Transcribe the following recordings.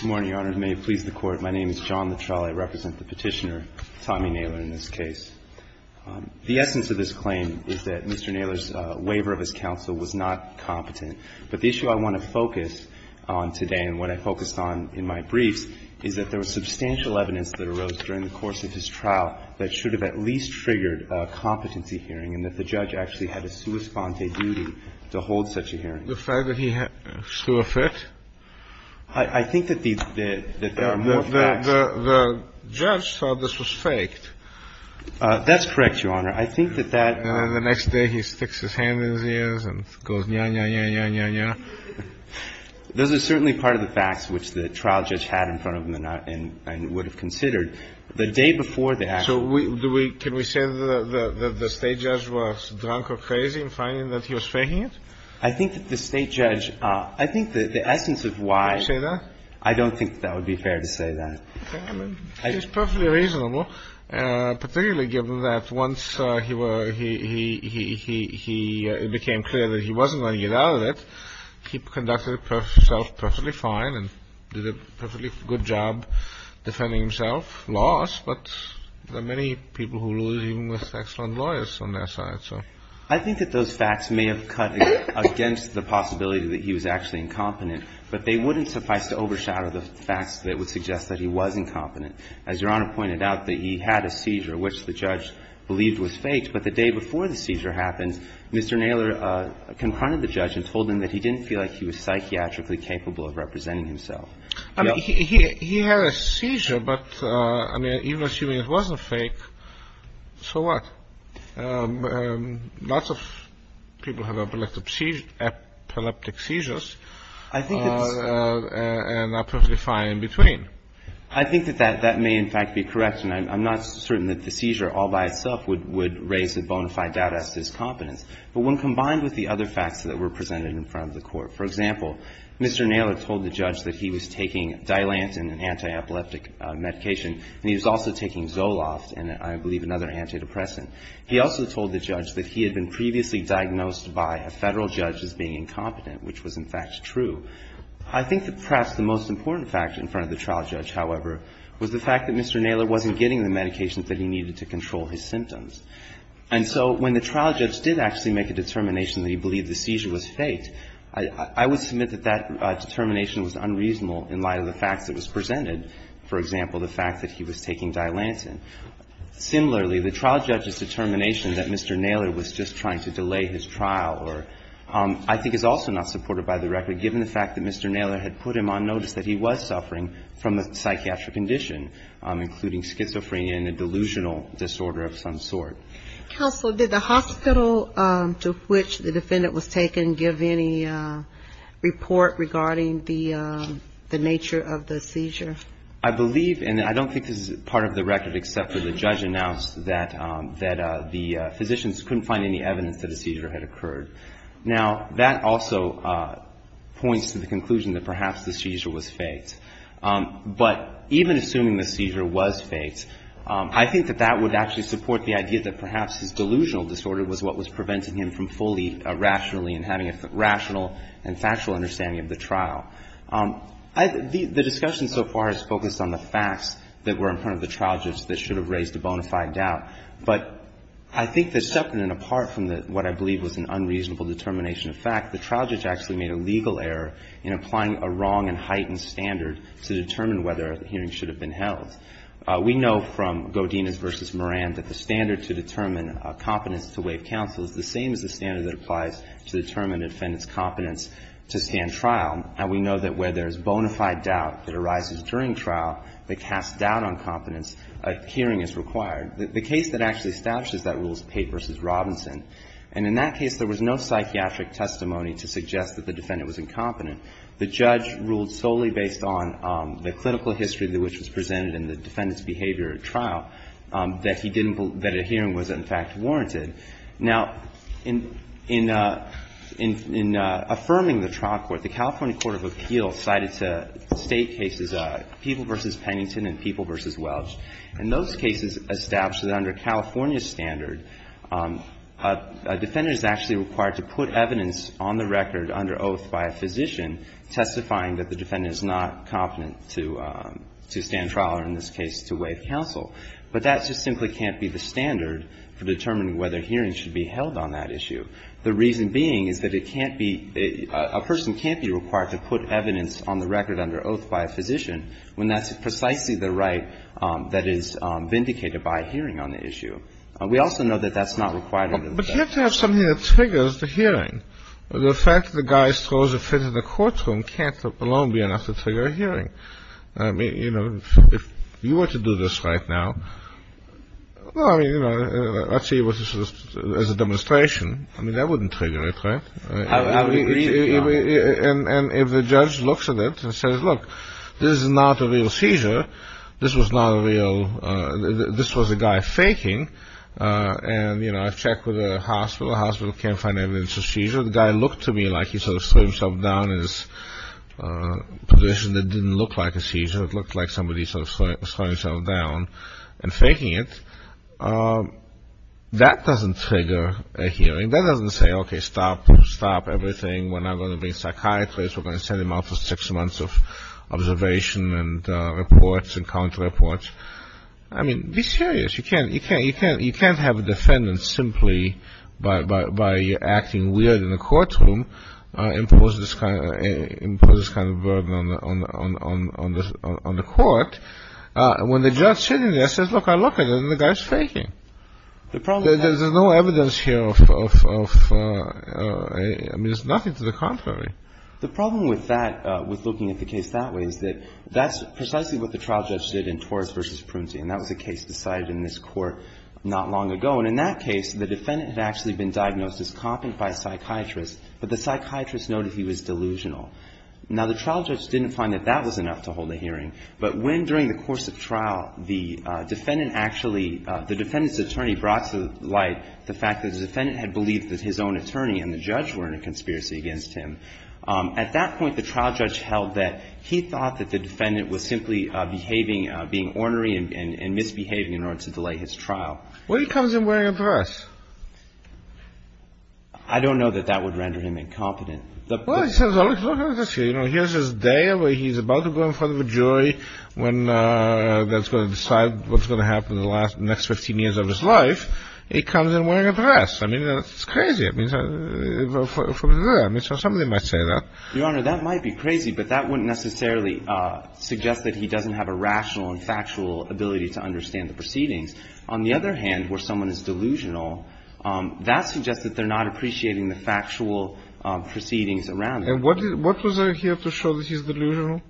Good morning, Your Honor, and may it please the Court, my name is John Latrelle, I represent the petitioner, Tommy Naylor, in this case. The essence of this claim is that Mr. Naylor's waiver of his counsel was not competent, but the issue I want to focus on today and what I focused on in my briefs is that there was substantial evidence that arose during the course of his trial that should have at least triggered a competency hearing and that the judge actually had a sua sponte duty to hold such a hearing. The fact that he threw a fit? I think that the facts... The judge thought this was faked. That's correct, Your Honor. I think that that... And then the next day he sticks his hand in his ears and goes nya-nya-nya-nya-nya. Those are certainly part of the facts which the trial judge had in front of him and would have considered. The day before that... So can we say that the State judge was drunk or crazy in finding that he was faking it? I think that the State judge... I think that the essence of why... Can we say that? I don't think that would be fair to say that. I think it's perfectly reasonable, particularly given that once he became clear that he wasn't going to get out of it, he conducted himself perfectly fine and did a perfectly good job defending himself, lost, but there are many people who lose even with excellent lawyers on their side, so... I think that those facts may have cut against the possibility that he was actually incompetent, but they wouldn't suffice to overshadow the facts that would suggest that he was incompetent. As Your Honor pointed out, that he had a seizure which the judge believed was faked, but the day before the seizure happened, Mr. Naylor confronted the judge and told him that he didn't feel like he was psychiatrically capable of representing himself. He had a seizure, but, I mean, even assuming it wasn't fake, so what? Lots of people have epileptic seizures and are perfectly fine in between. I think that that may, in fact, be correct, and I'm not certain that the seizure all by itself would raise a bona fide doubt as to his competence, but when combined with the other facts that were presented in front of the court, for example, Mr. Naylor told the judge that he was taking Dilantin, an anti-epileptic medication, and he was also taking Zoloft, and I believe another antidepressant. He also told the judge that he had been previously diagnosed by a Federal judge as being incompetent, which was, in fact, true. I think that perhaps the most important fact in front of the trial judge, however, was the fact that Mr. Naylor wasn't getting the medications that he needed to control his symptoms. And so when the trial judge did actually make a determination that he believed the seizure was faked, I would submit that that determination was unreasonable in light of the facts that was presented. For example, the fact that he was taking Dilantin. Similarly, the trial judge's determination that Mr. Naylor was just trying to delay his trial, I think is also not supported by the record, given the fact that Mr. Naylor had put him on notice that he was suffering from a psychiatric condition, including schizophrenia and a delusional disorder of some sort. Counsel, did the hospital to which the defendant was taken give any report regarding the nature of the seizure? I believe, and I don't think this is part of the record, except for the judge announced that the physicians couldn't find any evidence that a seizure had occurred. Now, that also points to the conclusion that perhaps the seizure was faked. But even assuming the seizure was faked, I think that that would actually support the idea that perhaps his delusional disorder was what was preventing him from fully rationally and having a rational and factual understanding of the trial. The discussion so far has focused on the facts that were in front of the trial judge that should have raised a bona fide doubt. But I think that separate and apart from what I believe was an unreasonable determination of fact, the trial judge actually made a legal error in applying a wrong and heightened standard to determine whether a hearing should have been held. We know from Godinez v. Moran that the standard to determine competence to waive counsel is the same as the standard that applies to determine a defendant's competence to stand trial. And we know that where there is bona fide doubt that arises during trial, the cast doubt on competence, a hearing is required. The case that actually establishes that rule is Pate v. Robinson. And in that case, there was no psychiatric testimony to suggest that the defendant was incompetent. The judge ruled solely based on the clinical history which was presented in the defendant's behavior at trial that he didn't believe that a hearing was in fact warranted. Now, in affirming the trial court, the California Court of Appeals cited State cases, People v. Pennington and People v. Welch. And those cases establish that under California's standard, a defendant is actually required to put evidence on the record under oath by a physician testifying that the defendant is not competent to stand trial or in this case to waive counsel. But that just simply can't be the standard for determining whether hearings should be held on that issue. The reason being is that it can't be — a person can't be required to put evidence on the record under oath by a physician when that's precisely the right that is vindicated by a hearing on the issue. We also know that that's not required under the statute. But you have to have something that triggers the hearing. The fact that the guy throws a fit in the courtroom can't alone be enough to trigger a hearing. I mean, you know, if you were to do this right now, well, I mean, you know, let's say it was a demonstration. I mean, that wouldn't trigger it, right? I would agree with you on that. And if the judge looks at it and says, look, this is not a real seizure. This was not a real — this was a guy faking. And, you know, I've checked with a hospital. The hospital can't find evidence of seizure. The guy looked to me like he sort of threw himself down in this position that didn't look like a seizure. It looked like somebody sort of threw himself down and faking it. That doesn't trigger a hearing. That doesn't say, okay, stop, stop everything. We're not going to bring psychiatrists. We're going to send them out for six months of observation and reports and counter-reports. I mean, be serious. You can't have a defendant simply by acting weird in the courtroom impose this kind of burden on the court. When the judge is sitting there and says, look, I look at it, and the guy is faking. There's no evidence here of — I mean, there's nothing to the contrary. The problem with that, with looking at the case that way, is that that's precisely what the trial judge did in Torres v. Prunty, and that was a case decided in this court not long ago. And in that case, the defendant had actually been diagnosed as copping by a psychiatrist, but the psychiatrist noted he was delusional. Now, the trial judge didn't find that that was enough to hold a hearing. But when, during the course of trial, the defendant actually — the defendant's attorney brought to light the fact that the defendant had believed that his own attorney and the judge were in a conspiracy against him, at that point the trial judge held that he thought that the defendant was simply behaving — being ornery and misbehaving in order to delay his trial. Well, he comes in wearing a dress. I don't know that that would render him incompetent. Well, he says, look at this here. You know, here's his day where he's about to go in front of a jury when that's going to decide what's going to happen in the next 15 years of his life. He comes in wearing a dress. I mean, that's crazy. I mean, from there, somebody might say that. Your Honor, that might be crazy, but that wouldn't necessarily suggest that he doesn't have a rational and factual ability to understand the proceedings. On the other hand, where someone is delusional, that suggests that they're not appreciating the factual proceedings around him. And what was there here to show that he's delusional,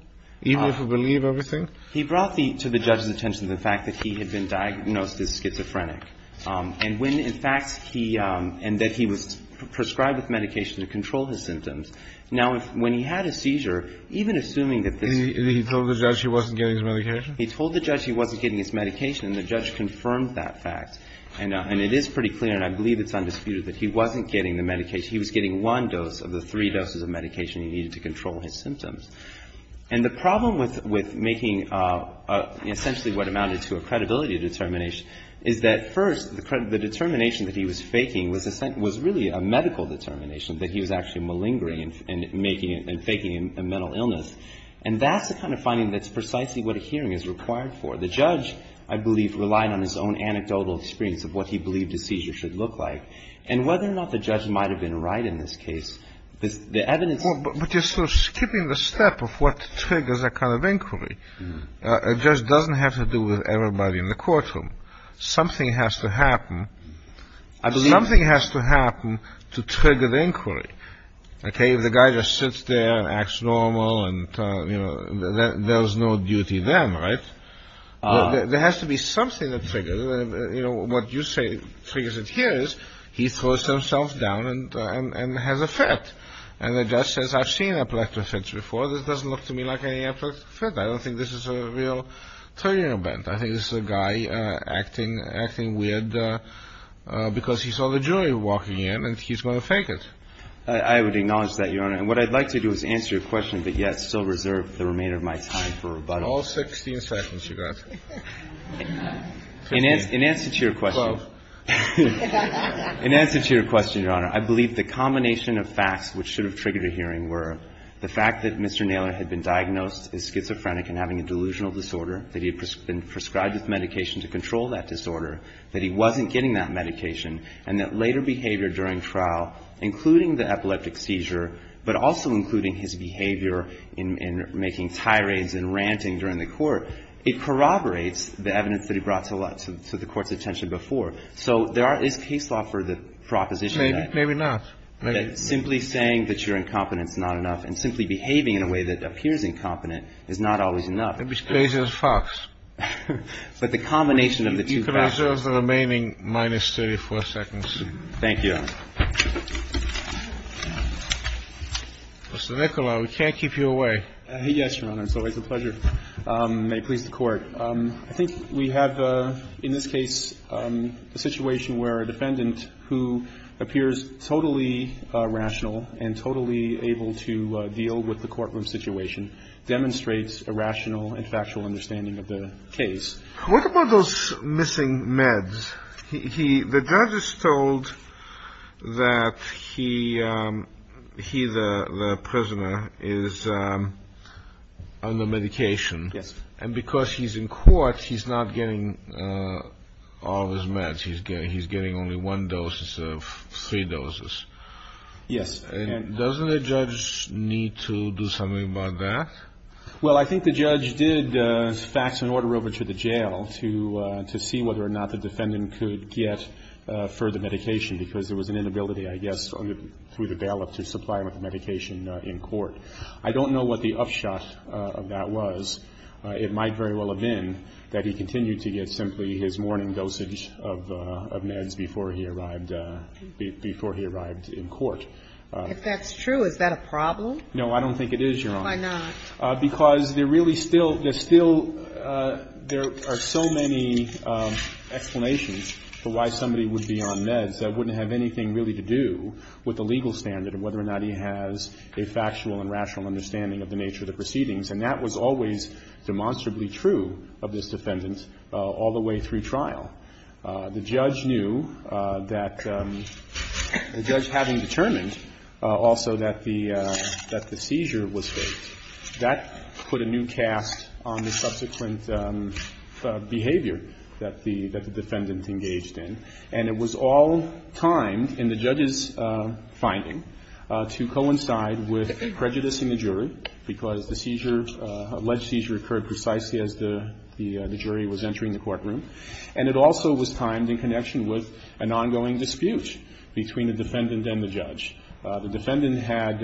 even if we believe everything? He brought to the judge's attention the fact that he had been diagnosed as schizophrenic. And when, in fact, he — and that he was prescribed with medication to control his symptoms. Now, when he had his seizure, even assuming that this — And he told the judge he wasn't getting his medication? He told the judge he wasn't getting his medication, and the judge confirmed that fact. And it is pretty clear, and I believe it's undisputed, that he wasn't getting the medication. He was getting one dose of the three doses of medication he needed to control his symptoms. And the problem with making essentially what amounted to a credibility determination is that, first, the determination that he was faking was really a medical determination, that he was actually malingering and faking a mental illness. And that's the kind of finding that's precisely what a hearing is required for. The judge, I believe, relied on his own anecdotal experience of what he believed a seizure should look like. And whether or not the judge might have been right in this case, the evidence — Well, but you're sort of skipping the step of what triggers that kind of inquiry. It just doesn't have to do with everybody in the courtroom. Something has to happen. Something has to happen to trigger the inquiry. If the guy just sits there and acts normal and there's no duty then, right? There has to be something that triggers. What you say triggers it here is he throws himself down and has a fit. And the judge says, I've seen epileptophants before. This doesn't look to me like any epileptophant. I don't think this is a real turning event. I think this is a guy acting weird because he saw the jury walking in and he's going to fake it. I would acknowledge that, Your Honor. And what I'd like to do is answer your question, but yet still reserve the remainder of my time for rebuttal. All 16 seconds, you got. In answer to your question. 12. In answer to your question, Your Honor, I believe the combination of facts which should have triggered a hearing were the fact that Mr. Naylor had been diagnosed as schizophrenic and having a delusional disorder, that he had been prescribed this medication to control that disorder, that he wasn't getting that medication, and that later behavior during trial, including the epileptic seizure, but also including his behavior in making tirades and ranting during the court, it corroborates the evidence that he brought to the court's attention before. So there is case law for the proposition. Maybe not. Simply saying that you're incompetent is not enough, and simply behaving in a way that appears incompetent is not always enough. It's based on facts. But the combination of the two factors. You can reserve the remaining minus 34 seconds. Thank you, Your Honor. Mr. Nicolau, we can't keep you away. Yes, Your Honor. It's always a pleasure. May it please the Court. I think we have, in this case, a situation where a defendant who appears totally rational and totally able to deal with the courtroom situation demonstrates a rational and factual understanding of the case. What about those missing meds? The judge is told that he, the prisoner, is on the medication. Yes. And because he's in court, he's not getting all of his meds. He's getting only one dose instead of three doses. Yes. And doesn't the judge need to do something about that? Well, I think the judge did fax an order over to the jail to see whether or not the defendant could get further medication, because there was an inability, I guess, through the ballot to supply him with medication in court. I don't know what the upshot of that was. It might very well have been that he continued to get simply his morning dosage of meds before he arrived in court. If that's true, is that a problem? No, I don't think it is, Your Honor. Why not? Because there really still, there still, there are so many explanations for why somebody would be on meds that wouldn't have anything really to do with the legal standard of whether or not he has a factual and rational understanding of the nature of the proceedings, and that was always demonstrably true of this defendant all the way through trial. The judge knew that, the judge having determined also that the seizure was faked, that put a new cast on the subsequent behavior that the defendant engaged in. And it was all timed in the judge's finding to coincide with prejudicing the jury, because the seizure, alleged seizure, occurred precisely as the jury was entering the courtroom. And it also was timed in connection with an ongoing dispute between the defendant and the judge. The defendant had,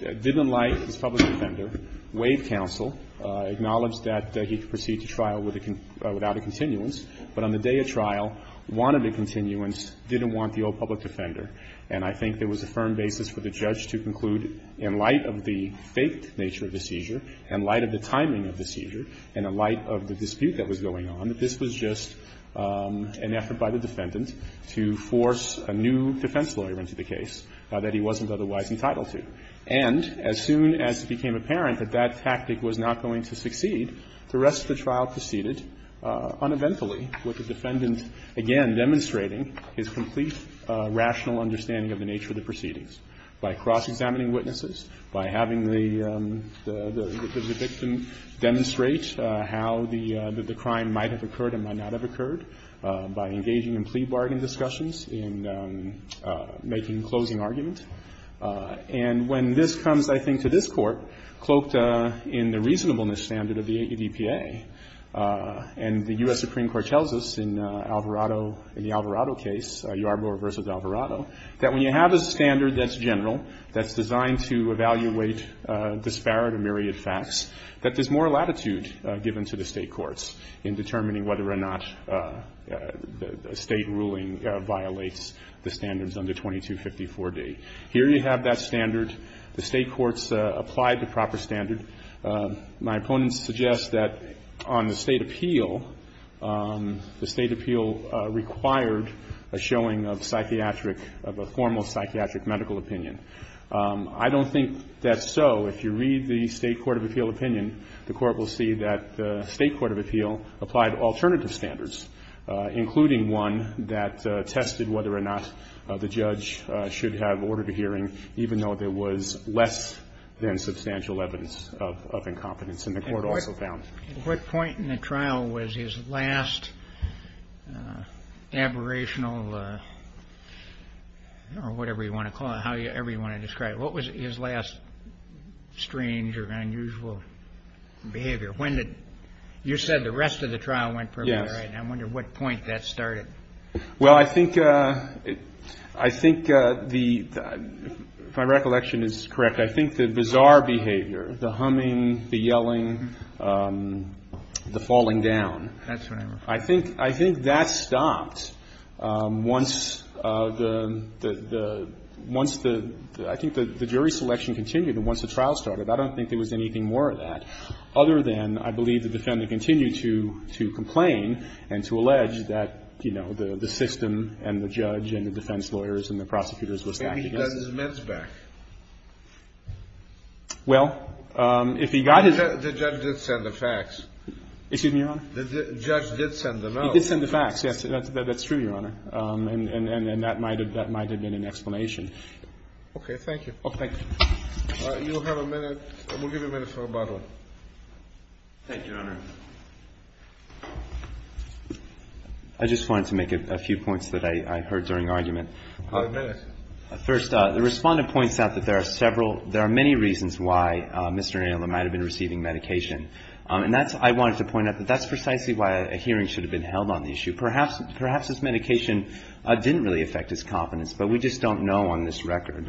didn't like his public defender. Waived counsel. Acknowledged that he could proceed to trial without a continuance. But on the day of trial, wanted a continuance, didn't want the old public defender. And I think there was a firm basis for the judge to conclude, in light of the faked nature of the seizure, in light of the timing of the seizure, and in light of the dispute that was going on, that this was just an effort by the defendant to force a new defense lawyer into the case that he wasn't otherwise entitled to. And as soon as it became apparent that that tactic was not going to succeed, the rest of the trial proceeded uneventfully, with the defendant again demonstrating his complete rational understanding of the nature of the proceedings. By cross-examining witnesses. By having the victim demonstrate how the crime might have occurred and might not have occurred. By making a closing argument. And when this comes, I think, to this Court, cloaked in the reasonableness standard of the ADPA, and the U.S. Supreme Court tells us in Alvarado, in the Alvarado case, Yarborough v. Alvarado, that when you have a standard that's general, that's designed to evaluate disparate and myriad facts, that there's more latitude given to the State courts in determining whether or not a State ruling violates the standards under 2254d. Here you have that standard. The State courts applied the proper standard. My opponents suggest that on the State appeal, the State appeal required a showing of psychiatric, of a formal psychiatric medical opinion. I don't think that's so. If you read the State court of appeal opinion, the Court will see that the State court of appeal applied alternative standards, including one that tested whether or not the judge should have ordered a hearing, even though there was less than substantial evidence of incompetence, and the Court also found. And what point in the trial was his last aberrational, or whatever you want to call it, however you want to describe it. What was his last strange or unusual behavior? You said the rest of the trial went perfectly right. I'm wondering what point that started. Well, I think the, if my recollection is correct, I think the bizarre behavior, the humming, the yelling, the falling down. That's what I'm referring to. I think, I think that stopped once the, once the, I think the jury selection continued and once the trial started. I don't think there was anything more of that, other than I believe the defendant continued to complain and to allege that, you know, the system and the judge and the defense lawyers and the prosecutors were stacked against him. But he got his mitts back. Well, if he got his mitts back. The judge did send the facts. Excuse me, Your Honor? The judge did send the facts. He did send the facts, yes. That's true, Your Honor. And that might have been an explanation. Okay. Thank you. Oh, thank you. You have a minute. We'll give you a minute for rebuttal. Thank you, Your Honor. I just wanted to make a few points that I heard during argument. Five minutes. First, the Respondent points out that there are several, there are many reasons why Mr. Inouye might have been receiving medication. And that's, I wanted to point out that that's precisely why a hearing should have been held on the issue. Perhaps this medication didn't really affect his confidence, but we just don't know on this record.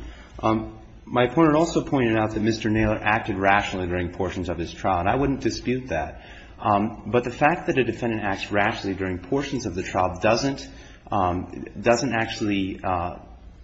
My opponent also pointed out that Mr. Naylor acted rationally during portions of his trial, and I wouldn't dispute that. But the fact that a defendant acts rationally during portions of the trial doesn't actually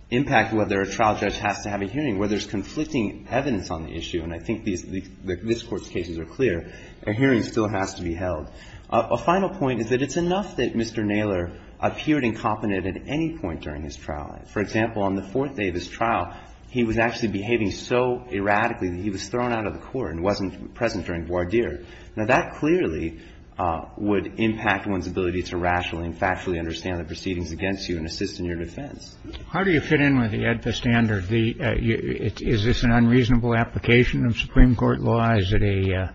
impact whether a trial judge has to have a hearing, where there's conflicting evidence on the issue. And I think this Court's cases are clear. A hearing still has to be held. A final point is that it's enough that Mr. Naylor appeared incompetent at any point during his trial. For example, on the fourth day of his trial, he was actually behaving so erratically that he was thrown out of the court and wasn't present during voir dire. Now, that clearly would impact one's ability to rationally and factually understand the proceedings against you and assist in your defense. How do you fit in with the AEDPA standard? Is this an unreasonable application of Supreme Court law? Is it a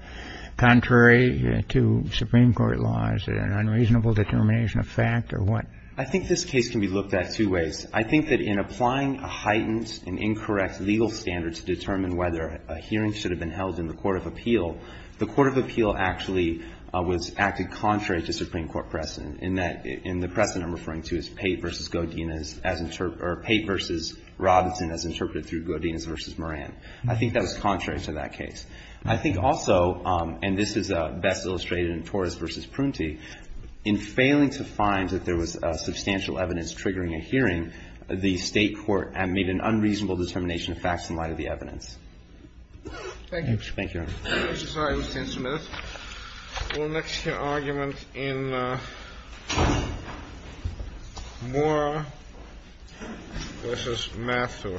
contrary to Supreme Court law? Is it an unreasonable determination of fact? Or what? I think this case can be looked at two ways. I think that in applying a heightened and incorrect legal standard to determine whether a hearing should have been held in the court of appeal, the court of appeal actually was acted contrary to Supreme Court precedent in that the precedent I'm referring to is Pate v. Godinez, or Pate v. Robinson as interpreted through Godinez v. Moran. I think that was contrary to that case. I think also, and this is best illustrated in Torres v. Prunty, in failing to find that there was substantial evidence triggering a hearing, the State court made an unreasonable determination of facts in light of the evidence. Thank you. Thank you, Your Honor. I'm sorry. It was 10 minutes. We'll next hear argument in Mora v. Mathew. Thank you.